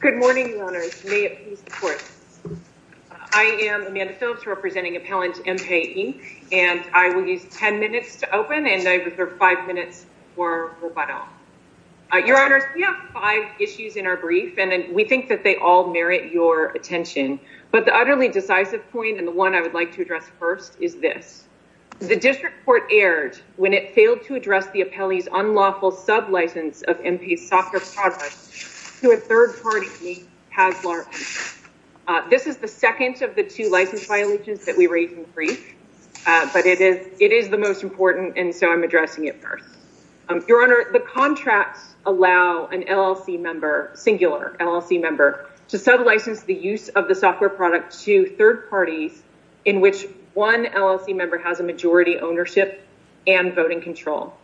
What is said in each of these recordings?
Good morning, Your Honors. May it please the Court. I am Amanda Phillips representing Appellant Mpay Inc. and I will use ten minutes to open and I reserve five minutes for rebuttal. Your Honors, we have five issues in our brief and we think that they all merit your attention, but the utterly decisive point and the one I would like to address first is this. The District Court erred when it failed to address the Appellee's unlawful sub-license of Mpay's software products to a third party named Haslar Mpay. This is the second of the two license violations that we raised in brief, but it is the most important and so I'm addressing it first. Your Honor, the contracts allow an LLC member, singular LLC member, to sub-license the use of the software product to third parties in which one LLC member has a majority ownership and voting control.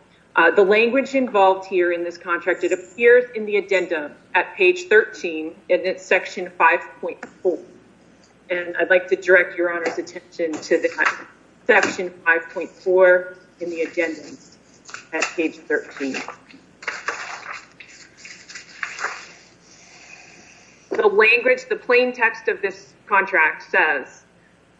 The language involved here in this contract, it appears in the addendum at page 13 and it's section 5.4 and I'd like to direct Your Honor's attention to the section 5.4 in the addendum at page 13. The language, the plain text of this contract says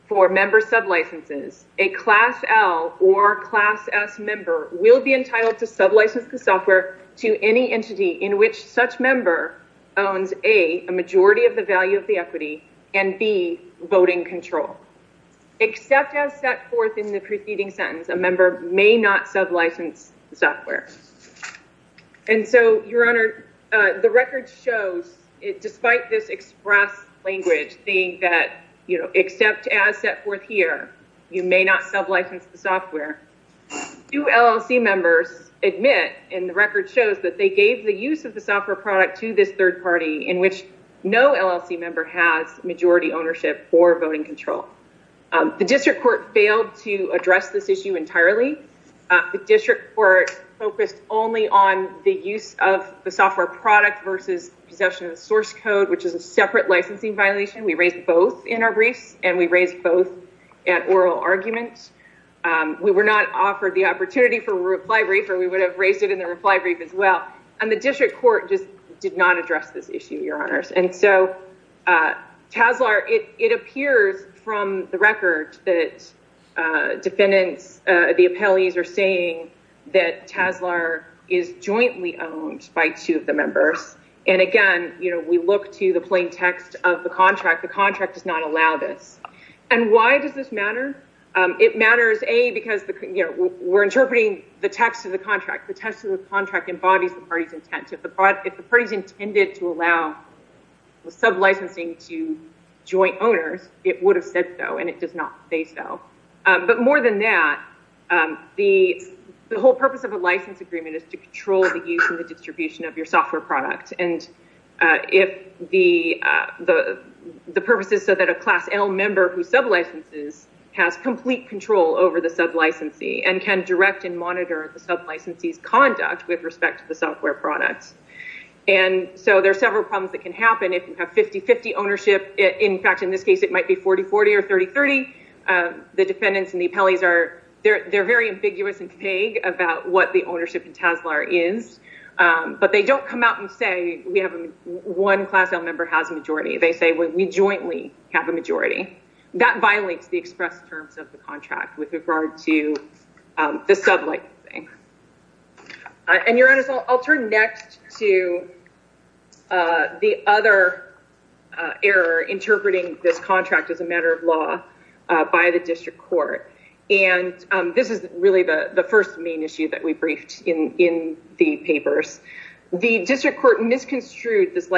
for member sub-licenses, a class L or class S member will be entitled to sub-license the software to any entity in which such member owns A, a majority of the value of the equity and B, voting control. Except as set forth in preceding sentence, a member may not sub-license the software. And so Your Honor, the record shows despite this express language saying that except as set forth here, you may not sub-license the software, two LLC members admit and the record shows that they gave the use of the software product to this third party in which no LLC member has majority ownership or voting control. The district court failed to address this issue entirely. The district court focused only on the use of the software product versus possession of the source code, which is a separate licensing violation. We raised both in our briefs and we raised both at oral argument. We were not offered the opportunity for reply brief or we would have raised it in the reply brief as well. And the record that defendants, the appellees are saying that TASLR is jointly owned by two of the members. And again, we look to the plain text of the contract. The contract does not allow this. And why does this matter? It matters A, because we're interpreting the text of the contract. The text of the contract embodies the party's intent. If the party's intended to allow sub-licensing to joint owners, it would have said so and it does not say so. But more than that, the whole purpose of a license agreement is to control the use and the distribution of your software product. And if the purpose is so that a class L member who sub-licenses has complete control over the sub-licensee and can direct and monitor the sub-licensee's conduct with respect to the software products. And so there's several problems that can happen if you have 50-50 ownership. In fact, in this case, it might be 40-40 or 30-30. The defendants and the appellees are very ambiguous and vague about what the ownership in TASLR is. But they don't come out and say we have one class L member has a majority. They say we jointly have a majority. That violates the express terms of the contract with regard to the sub-licensing. And your honors, I'll turn next to the other error interpreting this contract as a matter of law by the district court. And this is really the first main issue that we briefed in the papers. The district court misconstrued this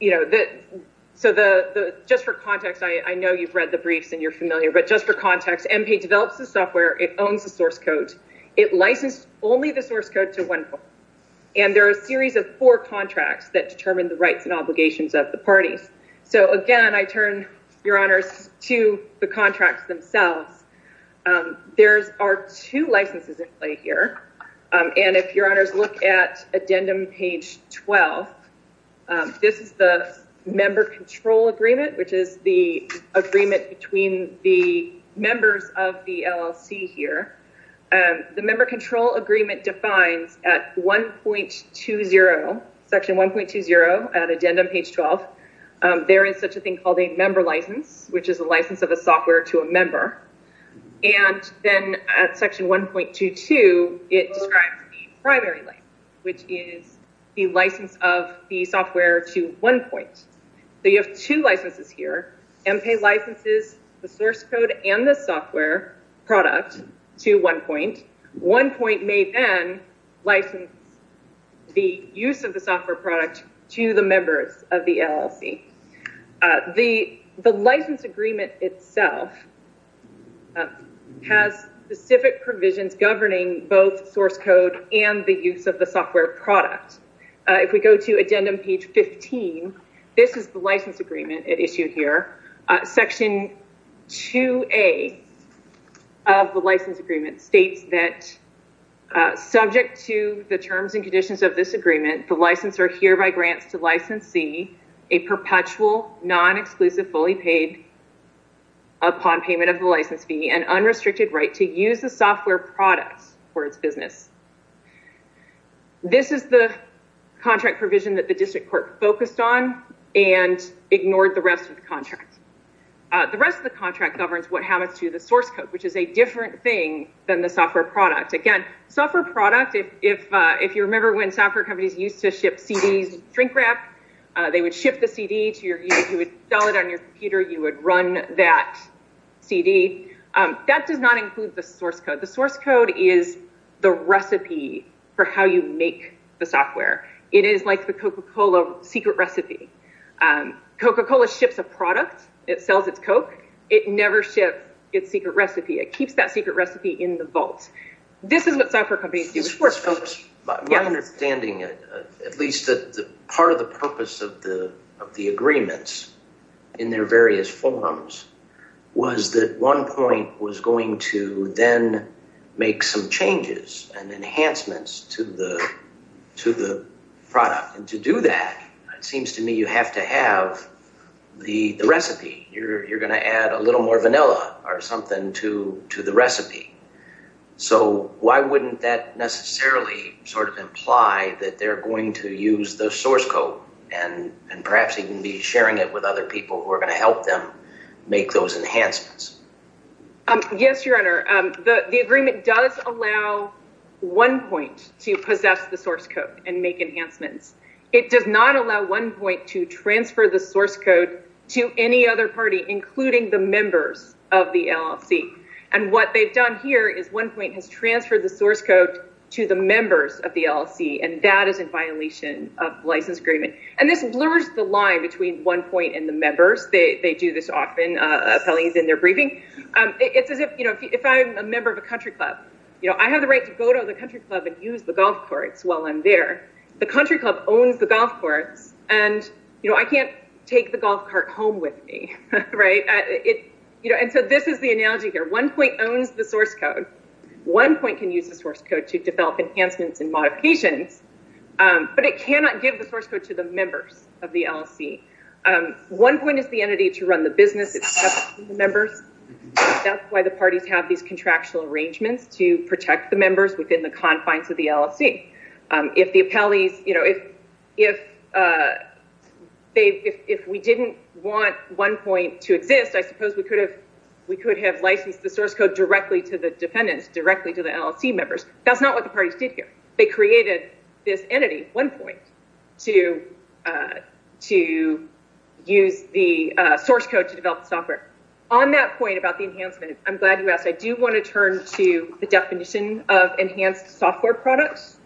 you know, so just for context, I know you've read the briefs and you're familiar. But just for context, MPAID develops the software. It owns the source code. It licensed only the source code to one party. And there are a series of four contracts that determine the rights and obligations of the parties. So again, I turn, your honors, to the contracts themselves. There are two licenses in play here. And if your honors look at addendum page 12, this is the member control agreement, which is the agreement between the members of the LLC here. The member control agreement defines at 1.20, section 1.20 at addendum page 12, there is such a thing called a member license, which is a license of a software to a member. And then at section 1.22, it describes the primary license, which is the license of the software to one point. So you have two licenses here. MPAID licenses the source code and the software product to one point. One point may then license the use of the software product to the members of the LLC. The license agreement itself has specific provisions governing both source code and the use of the software product. If we go to addendum page 15, this is the license agreement at issue here. Section 2A of the license agreement states that subject to the terms and conditions of this agreement, the licensor hereby grants to licensee a perpetual non-exclusive fully paid upon payment of the license fee and unrestricted right to use the software products for its business. This is the contract provision that the district court focused on and ignored the rest of the source code, which is a different thing than the software product. Again, software product, if you remember when software companies used to ship CDs, drink wrap, they would ship the CD to your computer, you would sell it on your computer, you would run that CD. That does not include the source code. The source code is the recipe for how you make the software. It is like the Coca-Cola secret recipe. Coca-Cola ships a product, it sells its Coke, it never ships its secret recipe. It keeps that secret recipe in the vault. This is what software companies do. My understanding, at least part of the purpose of the agreements in their various forms was that one point was going to then make some changes and enhancements to the product. To do that, it seems to me you have to have the recipe. You're going to add a little more vanilla or something to the recipe. Why wouldn't that necessarily imply that they're going to use the source code and perhaps even be sharing it with other people who are going to help them make those enhancements? Yes, your honor. The agreement does allow one point to possess the source code and make enhancements. It does not allow one point to transfer the source code to any other party, including the members of the LLC. What they've done here is one point has transferred the source code to the members of the LLC, and that is in violation of the license agreement. This blurs the line between one point and the members. They do this often. If I'm a member of a country club, I have the right to go to the country club and use the golf courts while I'm there. The country club owns the golf courts, and I can't take the golf cart home with me. This is the analogy here. One point owns the source code to develop enhancements and modifications, but it cannot give the source code to the members of the LLC. One point is the entity to run the business. It's up to the members. That's why the parties have these contractual arrangements to protect the members within the confines of the LLC. If we didn't want one point to exist, I suppose we could have licensed the source code directly to the defendants, directly to the LLC members. That's not what the parties did here. They created this entity, one point, to use the source code to develop the software. On that point about the enhancement, I'm glad you asked. I do want to turn to the definition of enhanced software products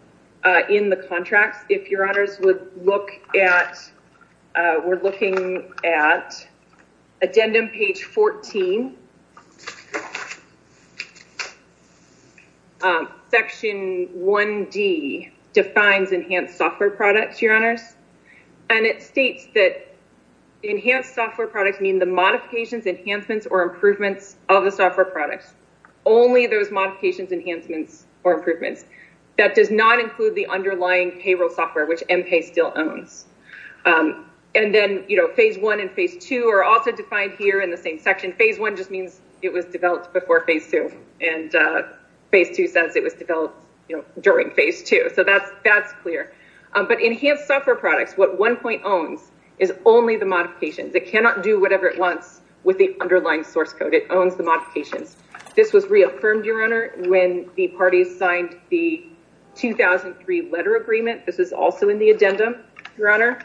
in the contracts. If your honors would look at, we're looking at addendum page 14. Section 1D defines enhanced software products, your honors. And it states that enhanced software products mean the modifications, enhancements, or improvements of the software products. Only those modifications, enhancements, or improvements. That does not include the underlying payroll software, which M-PAY still owns. And then, you know, phase one and phase two are also defined here in the same section. Phase one just means it was developed before phase two. And phase two says it was developed during phase two. So that's clear. But enhanced software products, what one point owns is only the modifications. It cannot do whatever it wants with the underlying source code. It owns the modifications. This was reaffirmed, your honor, when the parties signed the 2003 letter agreement. This is also in the addendum, your honor.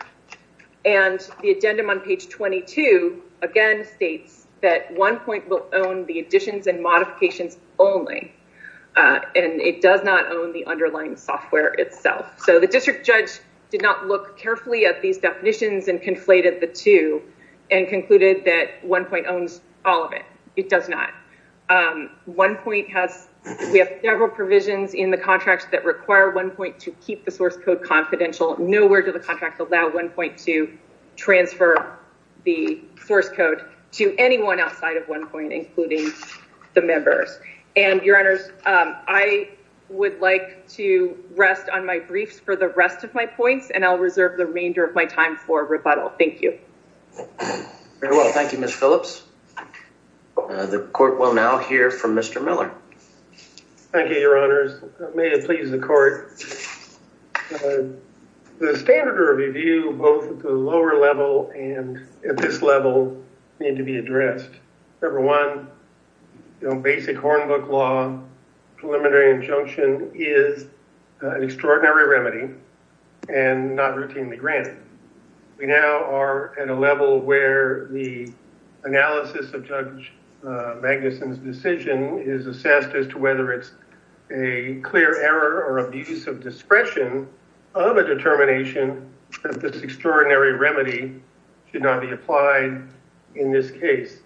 And the addendum on page 22, again, states that one point will own the additions and modifications only. And it does not own the underlying software itself. So the district judge did not look carefully at these definitions and conflated the two and concluded that one point owns all of it. It does not. One point has, we have several provisions in the contracts that allow one point to transfer the source code to anyone outside of one point, including the members. And your honors, I would like to rest on my briefs for the rest of my points and I'll reserve the remainder of my time for rebuttal. Thank you. Very well. Thank you, Ms. Phillips. The court will now hear from Mr. Miller. Thank you, your honors. May it please the court. The standard of review, both at the lower level and at this level, need to be addressed. Number one, basic Hornbook law, preliminary injunction, is an extraordinary remedy and not routinely granted. We now are at a level where the analysis of Judge Magnuson's decision is assessed as to a clear error or abuse of discretion of a determination that this extraordinary remedy should not be applied in this case.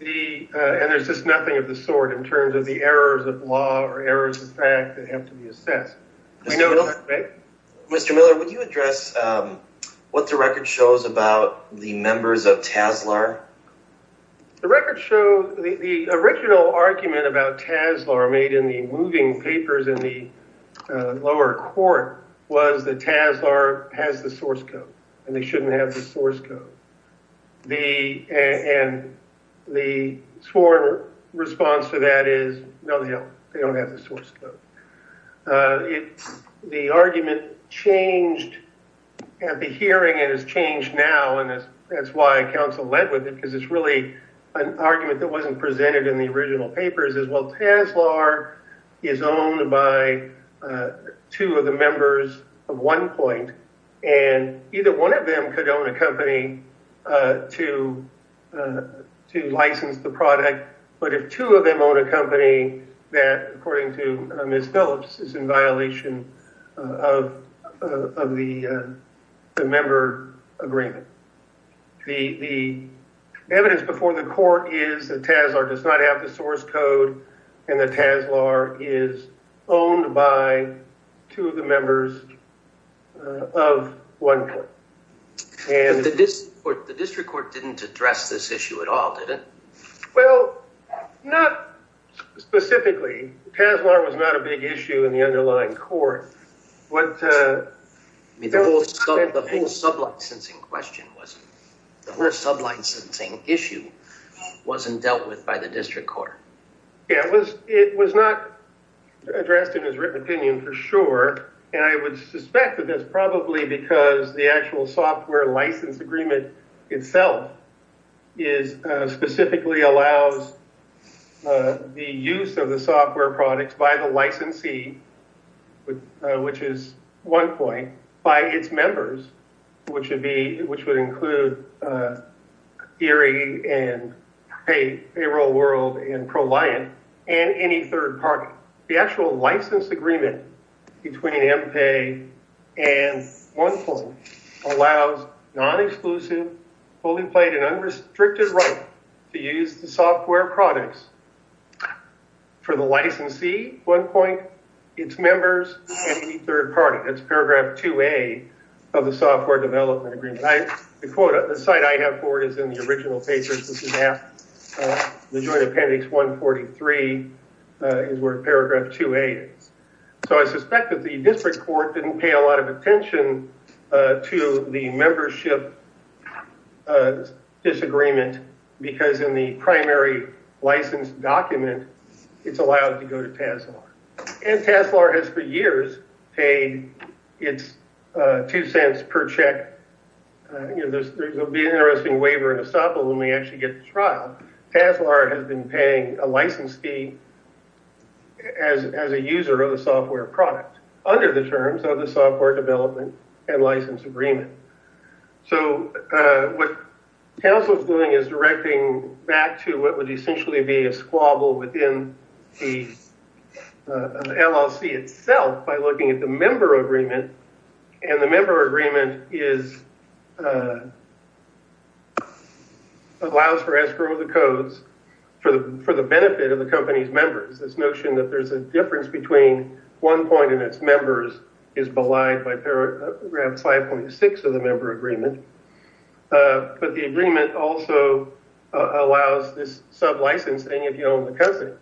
And there's just nothing of the sort in terms of the errors of law or errors of fact that have to be assessed. Mr. Miller, would you address what the record shows about the members of TASLR? The record shows the original argument about TASLR made in the moving papers in the lower court was that TASLR has the source code and they shouldn't have the source code. And the sworn response to that is, no, they don't. They don't have the source code. And that's why council led with it because it's really an argument that wasn't presented in the original papers as well. TASLR is owned by two of the members of one point, and either one of them could own a company to license the product. But if two of them own a company, it's not an agreement. The evidence before the court is that TASLR does not have the source code and that TASLR is owned by two of the members of one point. But the district court didn't address this issue at all, did it? Well, not specifically. TASLR was not a big issue in the underlying court. The whole sub-licensing issue wasn't dealt with by the district court. It was not addressed in its written opinion for sure, and I would suspect that that's probably because the actual software license agreement itself specifically allows the use of the software, which is one point, by its members, which would include Erie and Payroll World and ProLiant and any third party. The actual license agreement between M-Pay and one point allows non-exclusive, fully played and unrestricted right to use the software products for the licensee, one point, its members, and any third party. That's paragraph 2A of the software development agreement. The quote, the site I have for it is in the original papers. This is after the joint appendix 143 is where paragraph 2A is. So I suspect that the district court didn't pay a lot of attention to the membership disagreement because in the primary licensed document, it's allowed to go to TASLAR. And TASLAR has for years paid its two cents per check. You know, there will be an interesting waiver and estoppel when we actually get to trial. TASLAR has been paying a license fee as a user of the software product under the terms of the software development and license agreement. So what TASLAR is doing is directing back to what would essentially be a squabble within the LLC itself by looking at the member agreement. And the member agreement is, allows for escrow of the codes for the benefit of the company's members. This notion that there's a difference between one point and its members is belied by paragraph 5.6 of the member agreement. But the agreement also allows this sub-licensing if you own the company.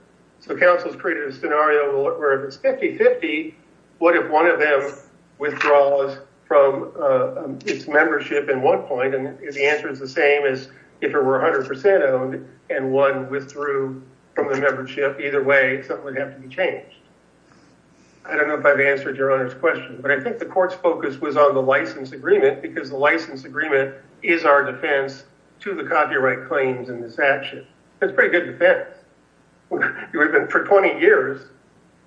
So council's created a scenario where if it's 50-50, what if one of them withdraws from its membership in one point? And the answer is the same as if it were 100% owned and one withdrew from the membership. Either way, something would have to be changed. I don't know if I've been able to answer that question. The last focus was on the license agreement because the license agreement is our defense to the copyright claims in this action. It's a pretty good defense. We've been for 20 years,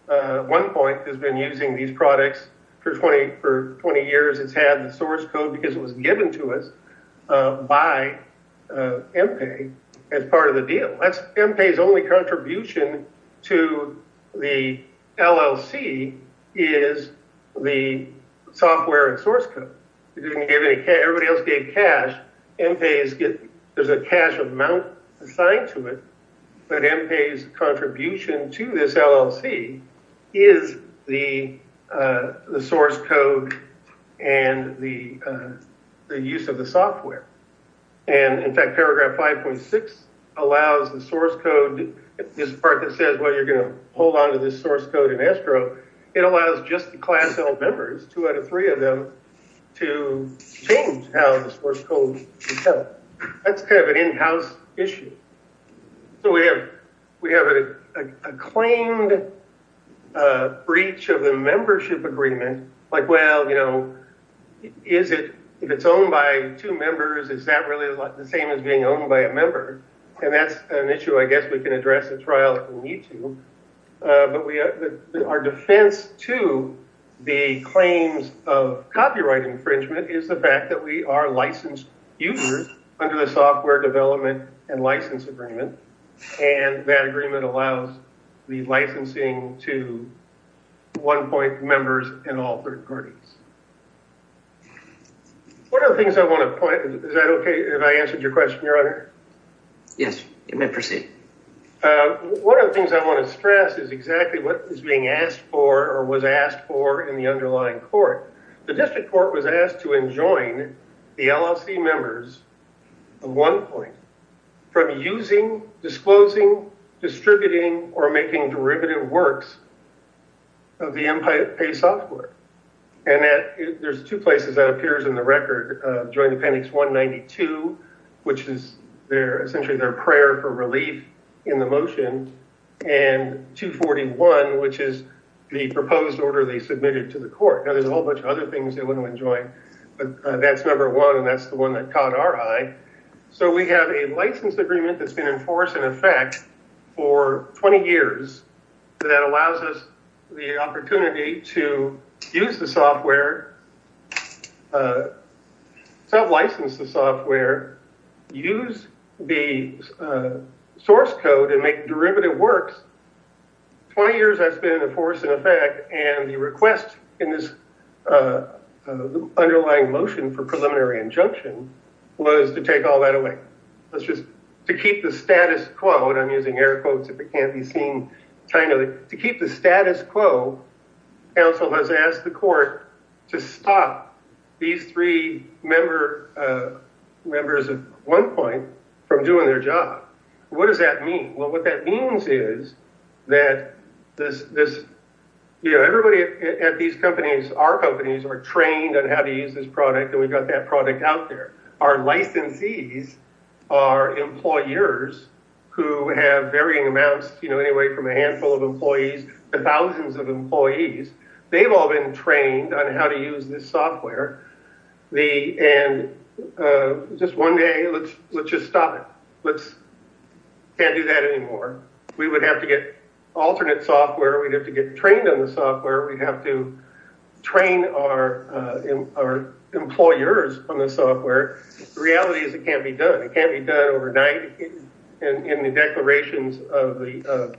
one point has been using these products for 20 years. It's had the source code because it was given to us by M-PAY as part of the deal. M-PAY's only contribution to the LLC is the software and source code. Everybody else gave cash. M-PAY, there's a cash amount assigned to it, but M-PAY's contribution to this LLC is the source code and the use of the software. And in fact, paragraph 5.6 allows the source code, this part that says, well, you're going to hold on to this source code in escrow, it allows just the class L members, two out of three of them, to change how the source code is held. That's kind of an in-house issue. So we have a claimed breach of the membership agreement, like, well, you know, is it, if it's owned by two members, is that really the same as being owned by a member? And that's an issue I guess we can address at trial if we need to. But our defense to the claims of copyright infringement is the fact that we are licensed users under the software development and license agreement, and that agreement allows the licensing to one point members and all third parties. One of the things I want to point, is that okay if I answered your question, your honor? Yes, you may proceed. One of the things I want to stress is exactly what is being asked for or was asked for in the underlying court. The district court was asked to enjoin the LLC members at one point from using, disclosing, distributing, or making derivative works of the MPA software. And there's two places that appears in the record, Joint Appendix 192, which is essentially their prayer for relief in the motion, and 241, which is the proposed order they submitted to the court. Now, there's a whole bunch of other things they want to enjoin, but that's number one, and that's the one that caught our eye. So we have a license agreement that's been in force in effect for 20 years that allows us the opportunity to use the software, self-license the software, use the source code, and make derivative works. 20 years that's been in force in effect, and the request in this underlying motion for preliminary injunction was to take all that away. Let's just, to keep the status quo, and I'm using air quotes if it stops these three members at one point from doing their job. What does that mean? Well, what that means is that this, you know, everybody at these companies, our companies, are trained on how to use this product, and we've got that product out there. Our licensees are employers who have varying amounts, you know, anyway, from a handful of employees to thousands of employees. They've all been trained on how to use this software, and just one day, let's just stop it. Can't do that anymore. We would have to get alternate software. We'd have to get trained on the software. We'd have to train our employers on the software. The reality is it can't be done. It can't be done overnight. In the declarations of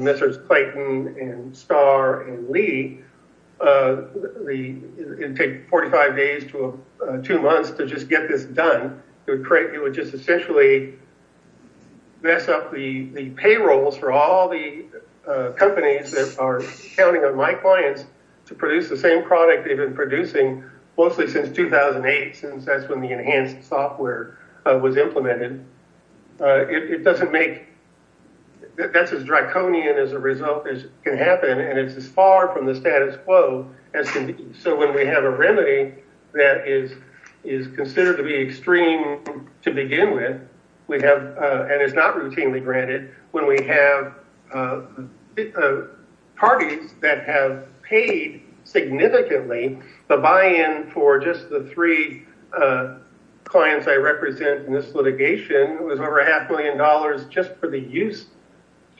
Messrs. Clayton and Starr and Lee, it'd take 45 days to two months to just get this done. It would just essentially mess up the payrolls for all the companies that are counting on my clients to produce the same product they've been producing, mostly since 2008, since that's when the enhanced software was implemented. It doesn't make, that's as draconian as a result as can happen, and it's as far from the status quo as can be. So when we have a remedy that is considered to be extreme to begin with, we have, and it's not routinely granted, when we have parties that have paid significantly, the buy-in for just the three clients I represent in this litigation was over a half million dollars just for the use,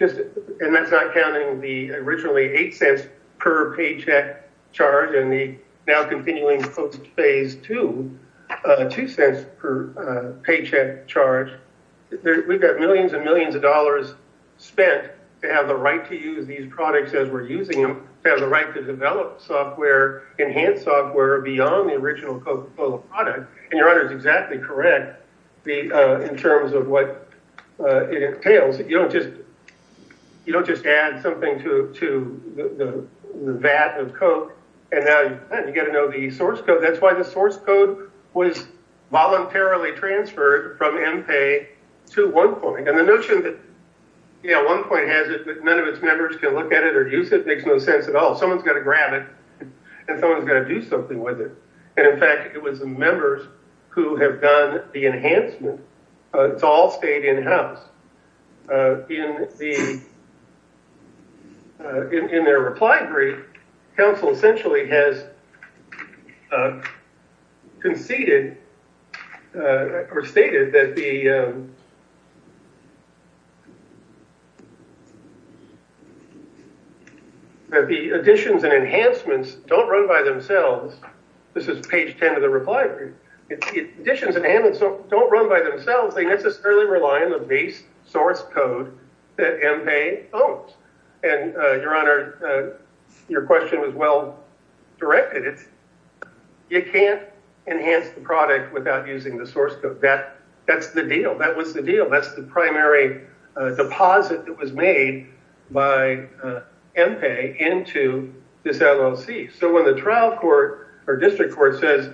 and that's not counting the originally eight cents per paycheck charge and the now-continuing post-phase two, two cents per paycheck charge. We've got millions and millions of dollars spent to have the right to use these products as we're using them, to have the right to develop software, enhance software beyond the original Coca-Cola product, and your honor is exactly correct in terms of what it entails. You don't just add something to the vat of Coke, and now you've got to know the source code. That's why the source code was voluntarily transferred from none of its members can look at it or use it. It makes no sense at all. Someone's got to grab it, and someone's got to do something with it, and in fact, it was the members who have done the enhancement. It's all stayed in-house. In their reply brief, counsel essentially has conceded or stated that the additions and enhancements don't run by themselves. This is page 10 of the reply brief. Additions and enhancements don't run by themselves. They necessarily rely on the base source code that M-Pay owns, and your honor, your question was well directed. You can't enhance the product without using the source code. That's the deal. That was the deal. That's the primary deposit that was made by M-Pay into this LLC, so when the trial court or district court says,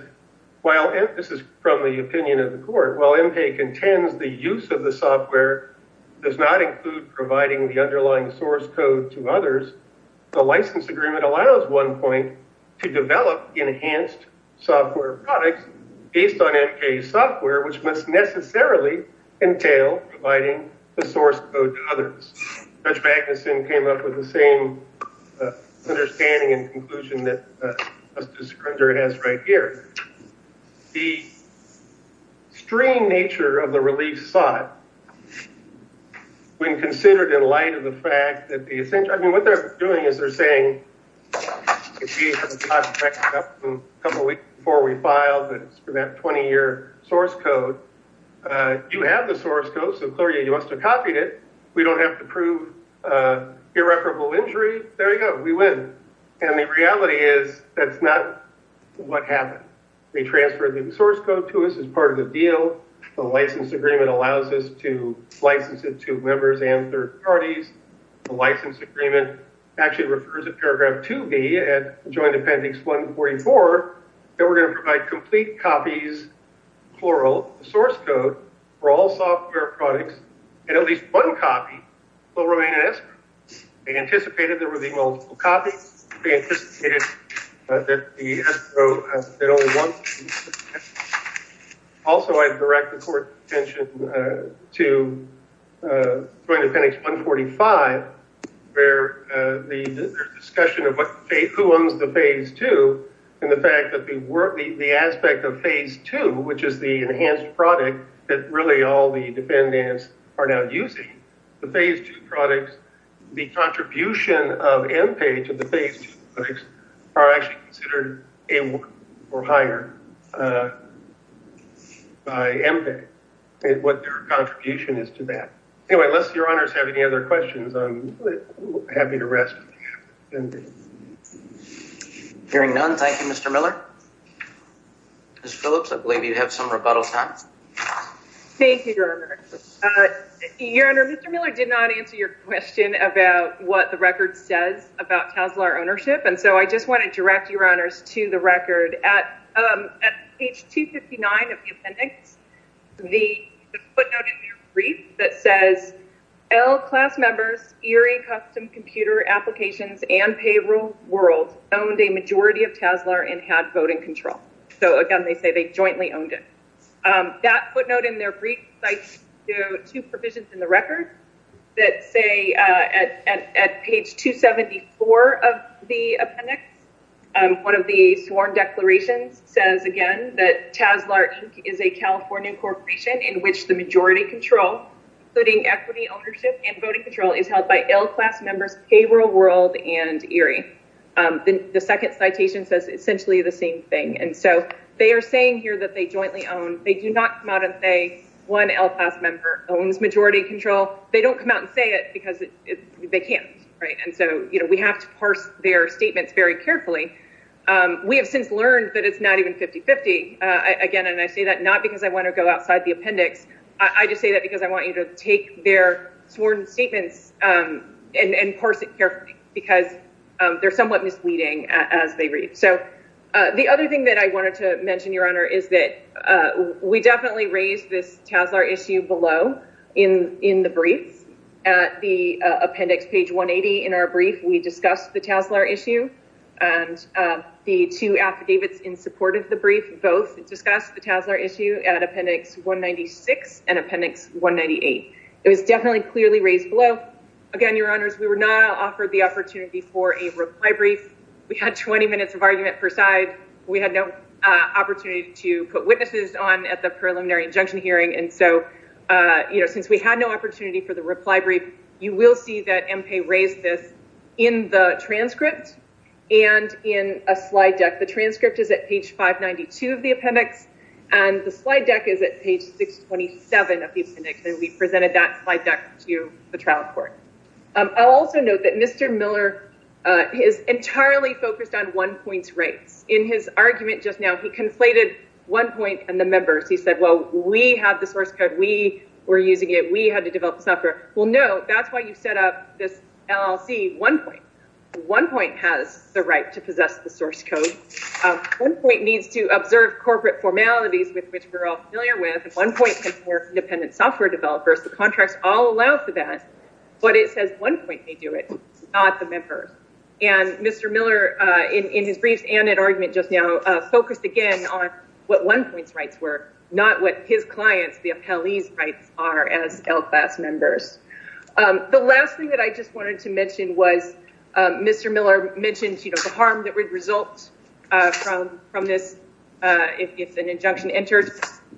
this is from the opinion of the court, while M-Pay contends the use of the software does not include providing the underlying source code to others, the license agreement allows one point to develop enhanced software products based on M-Pay's software, which must necessarily entail providing the source code to others. Judge Magnuson came up with the same understanding and conclusion that Justice Scrunger has right here. The extreme nature of the relief sought, when considered in light of the fact that the, I mean, what they're doing is they're saying, a couple weeks before we filed for that 20-year source code, you have the source code, so clearly you must have copied it. We don't have to prove irreparable injury. There you go. We win. And the reality is, that's not what happened. They transferred the source code to us as part of the deal. The license agreement allows us to license it to members and third parties. The license agreement actually refers a paragraph to me at Joint Appendix 144 that we're going to provide complete copies, plural, source code for all software products, and at least one copy will remain in escrow. They anticipated there would be multiple copies. They anticipated that the escrow had only one. Also, I direct the court's attention to Joint Appendix 145, where the discussion of who owns the Phase 2 and the fact that the aspect of Phase 2, which is the enhanced product that really all the dependents are now using, the Phase 2 products, the contribution of MPAE to the Phase 2 products are actually considered able or higher by MPAE, what their contribution is to that. Anyway, unless your honors have any other questions, I'm happy to rest. Hearing none, thank you, Mr. Miller. Ms. Phillips, I believe you have some rebuttal time. Thank you, your honor. Your honor, Mr. Miller did not answer your question about what the record says about Tesla ownership, and so I just want to direct your honors to the record at page 259 of the appendix, the footnote in your brief that says, L class members, Erie Custom Computer Applications and Payroll World owned a majority of Tesla and had voting control. So, again, they say they jointly owned it. That footnote in their brief cites two provisions in the record that say at page 274 of the appendix, one of the sworn declarations says, again, that Tesla Inc. is a California corporation in which the majority control, including equity ownership and voting control, is held by L class members, Payroll World, and Erie. The second citation says essentially the same thing, and so they are saying here that they jointly own. They do not come out and say, one L class member owns majority control. They don't come out and say it because they can't, right? And so we have to parse their statements very carefully. We have since learned that it's not even 50-50, again, and I say that not because I want to go outside the appendix. I just say that because I want you to take their sworn statements and parse it carefully because they're somewhat misleading as they read. So the other thing that I wanted to mention, Your Honor, is that we definitely raised this TASLR issue below in the brief. At the appendix, page 180 in our brief, we discussed the TASLR issue, and the two affidavits in support of the brief both discussed the TASLR issue at appendix 196 and appendix 198. It was definitely clearly raised below. Again, Your Honors, we were not offered the opportunity for a reply brief. We had 20 minutes of argument per side. We had no opportunity to put witnesses on at the preliminary injunction hearing, and so, you know, since we had no opportunity for the reply brief, you will see that MPAE raised this in the transcript and in a slide deck. The transcript is at page 592 of the appendix, and the slide deck is at page 627 of the appendix, and we presented that slide deck to the trial court. I'll also note that Mr. Miller is entirely focused on one point's rights. In his argument just now, he conflated one point and the members. He said, well, we have the source code. We were using it. We had to develop the software. Well, no, that's why you set up this LLC, one point. One point has the right to possess the source code. One point needs to observe corporate formalities with which we're all familiar with. One point can support independent software developers. The contracts all allow for that, but it says one point may do it, not the members, and Mr. Miller, in his briefs and in argument just now, focused again on what one point's rights were, not what his clients, the appellees' rights are as L-Class members. The last thing that I just wanted to mention was Mr. Miller mentioned, you know, the harm that results from this if an injunction enters.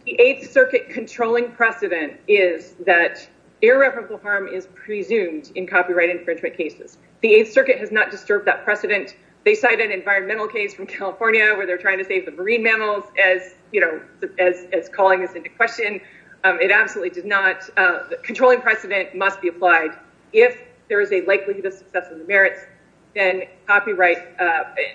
The Eighth Circuit controlling precedent is that irreparable harm is presumed in copyright infringement cases. The Eighth Circuit has not disturbed that precedent. They cite an environmental case from California where they're trying to save the marine mammals as, you know, as calling this into question. It absolutely did not. The controlling precedent must be applied. If there is a likelihood of merits, then copyright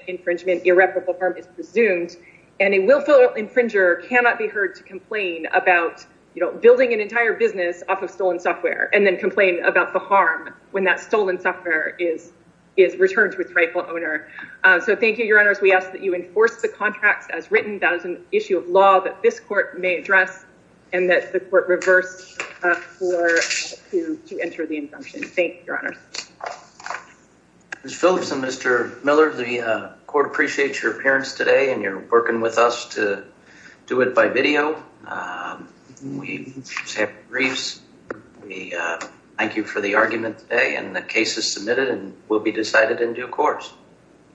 infringement, irreparable harm is presumed, and a willful infringer cannot be heard to complain about, you know, building an entire business off of stolen software and then complain about the harm when that stolen software is returned to its rightful owner. So thank you, Your Honors. We ask that you enforce the contracts as written. That is an issue of law that this court may address and that the court reverse to enter the injunction. Thank you, Your Honors. Ms. Phillips and Mr. Miller, the court appreciates your appearance today and you're working with us to do it by video. We have briefs. We thank you for the argument today and the case is submitted and will be decided in due course.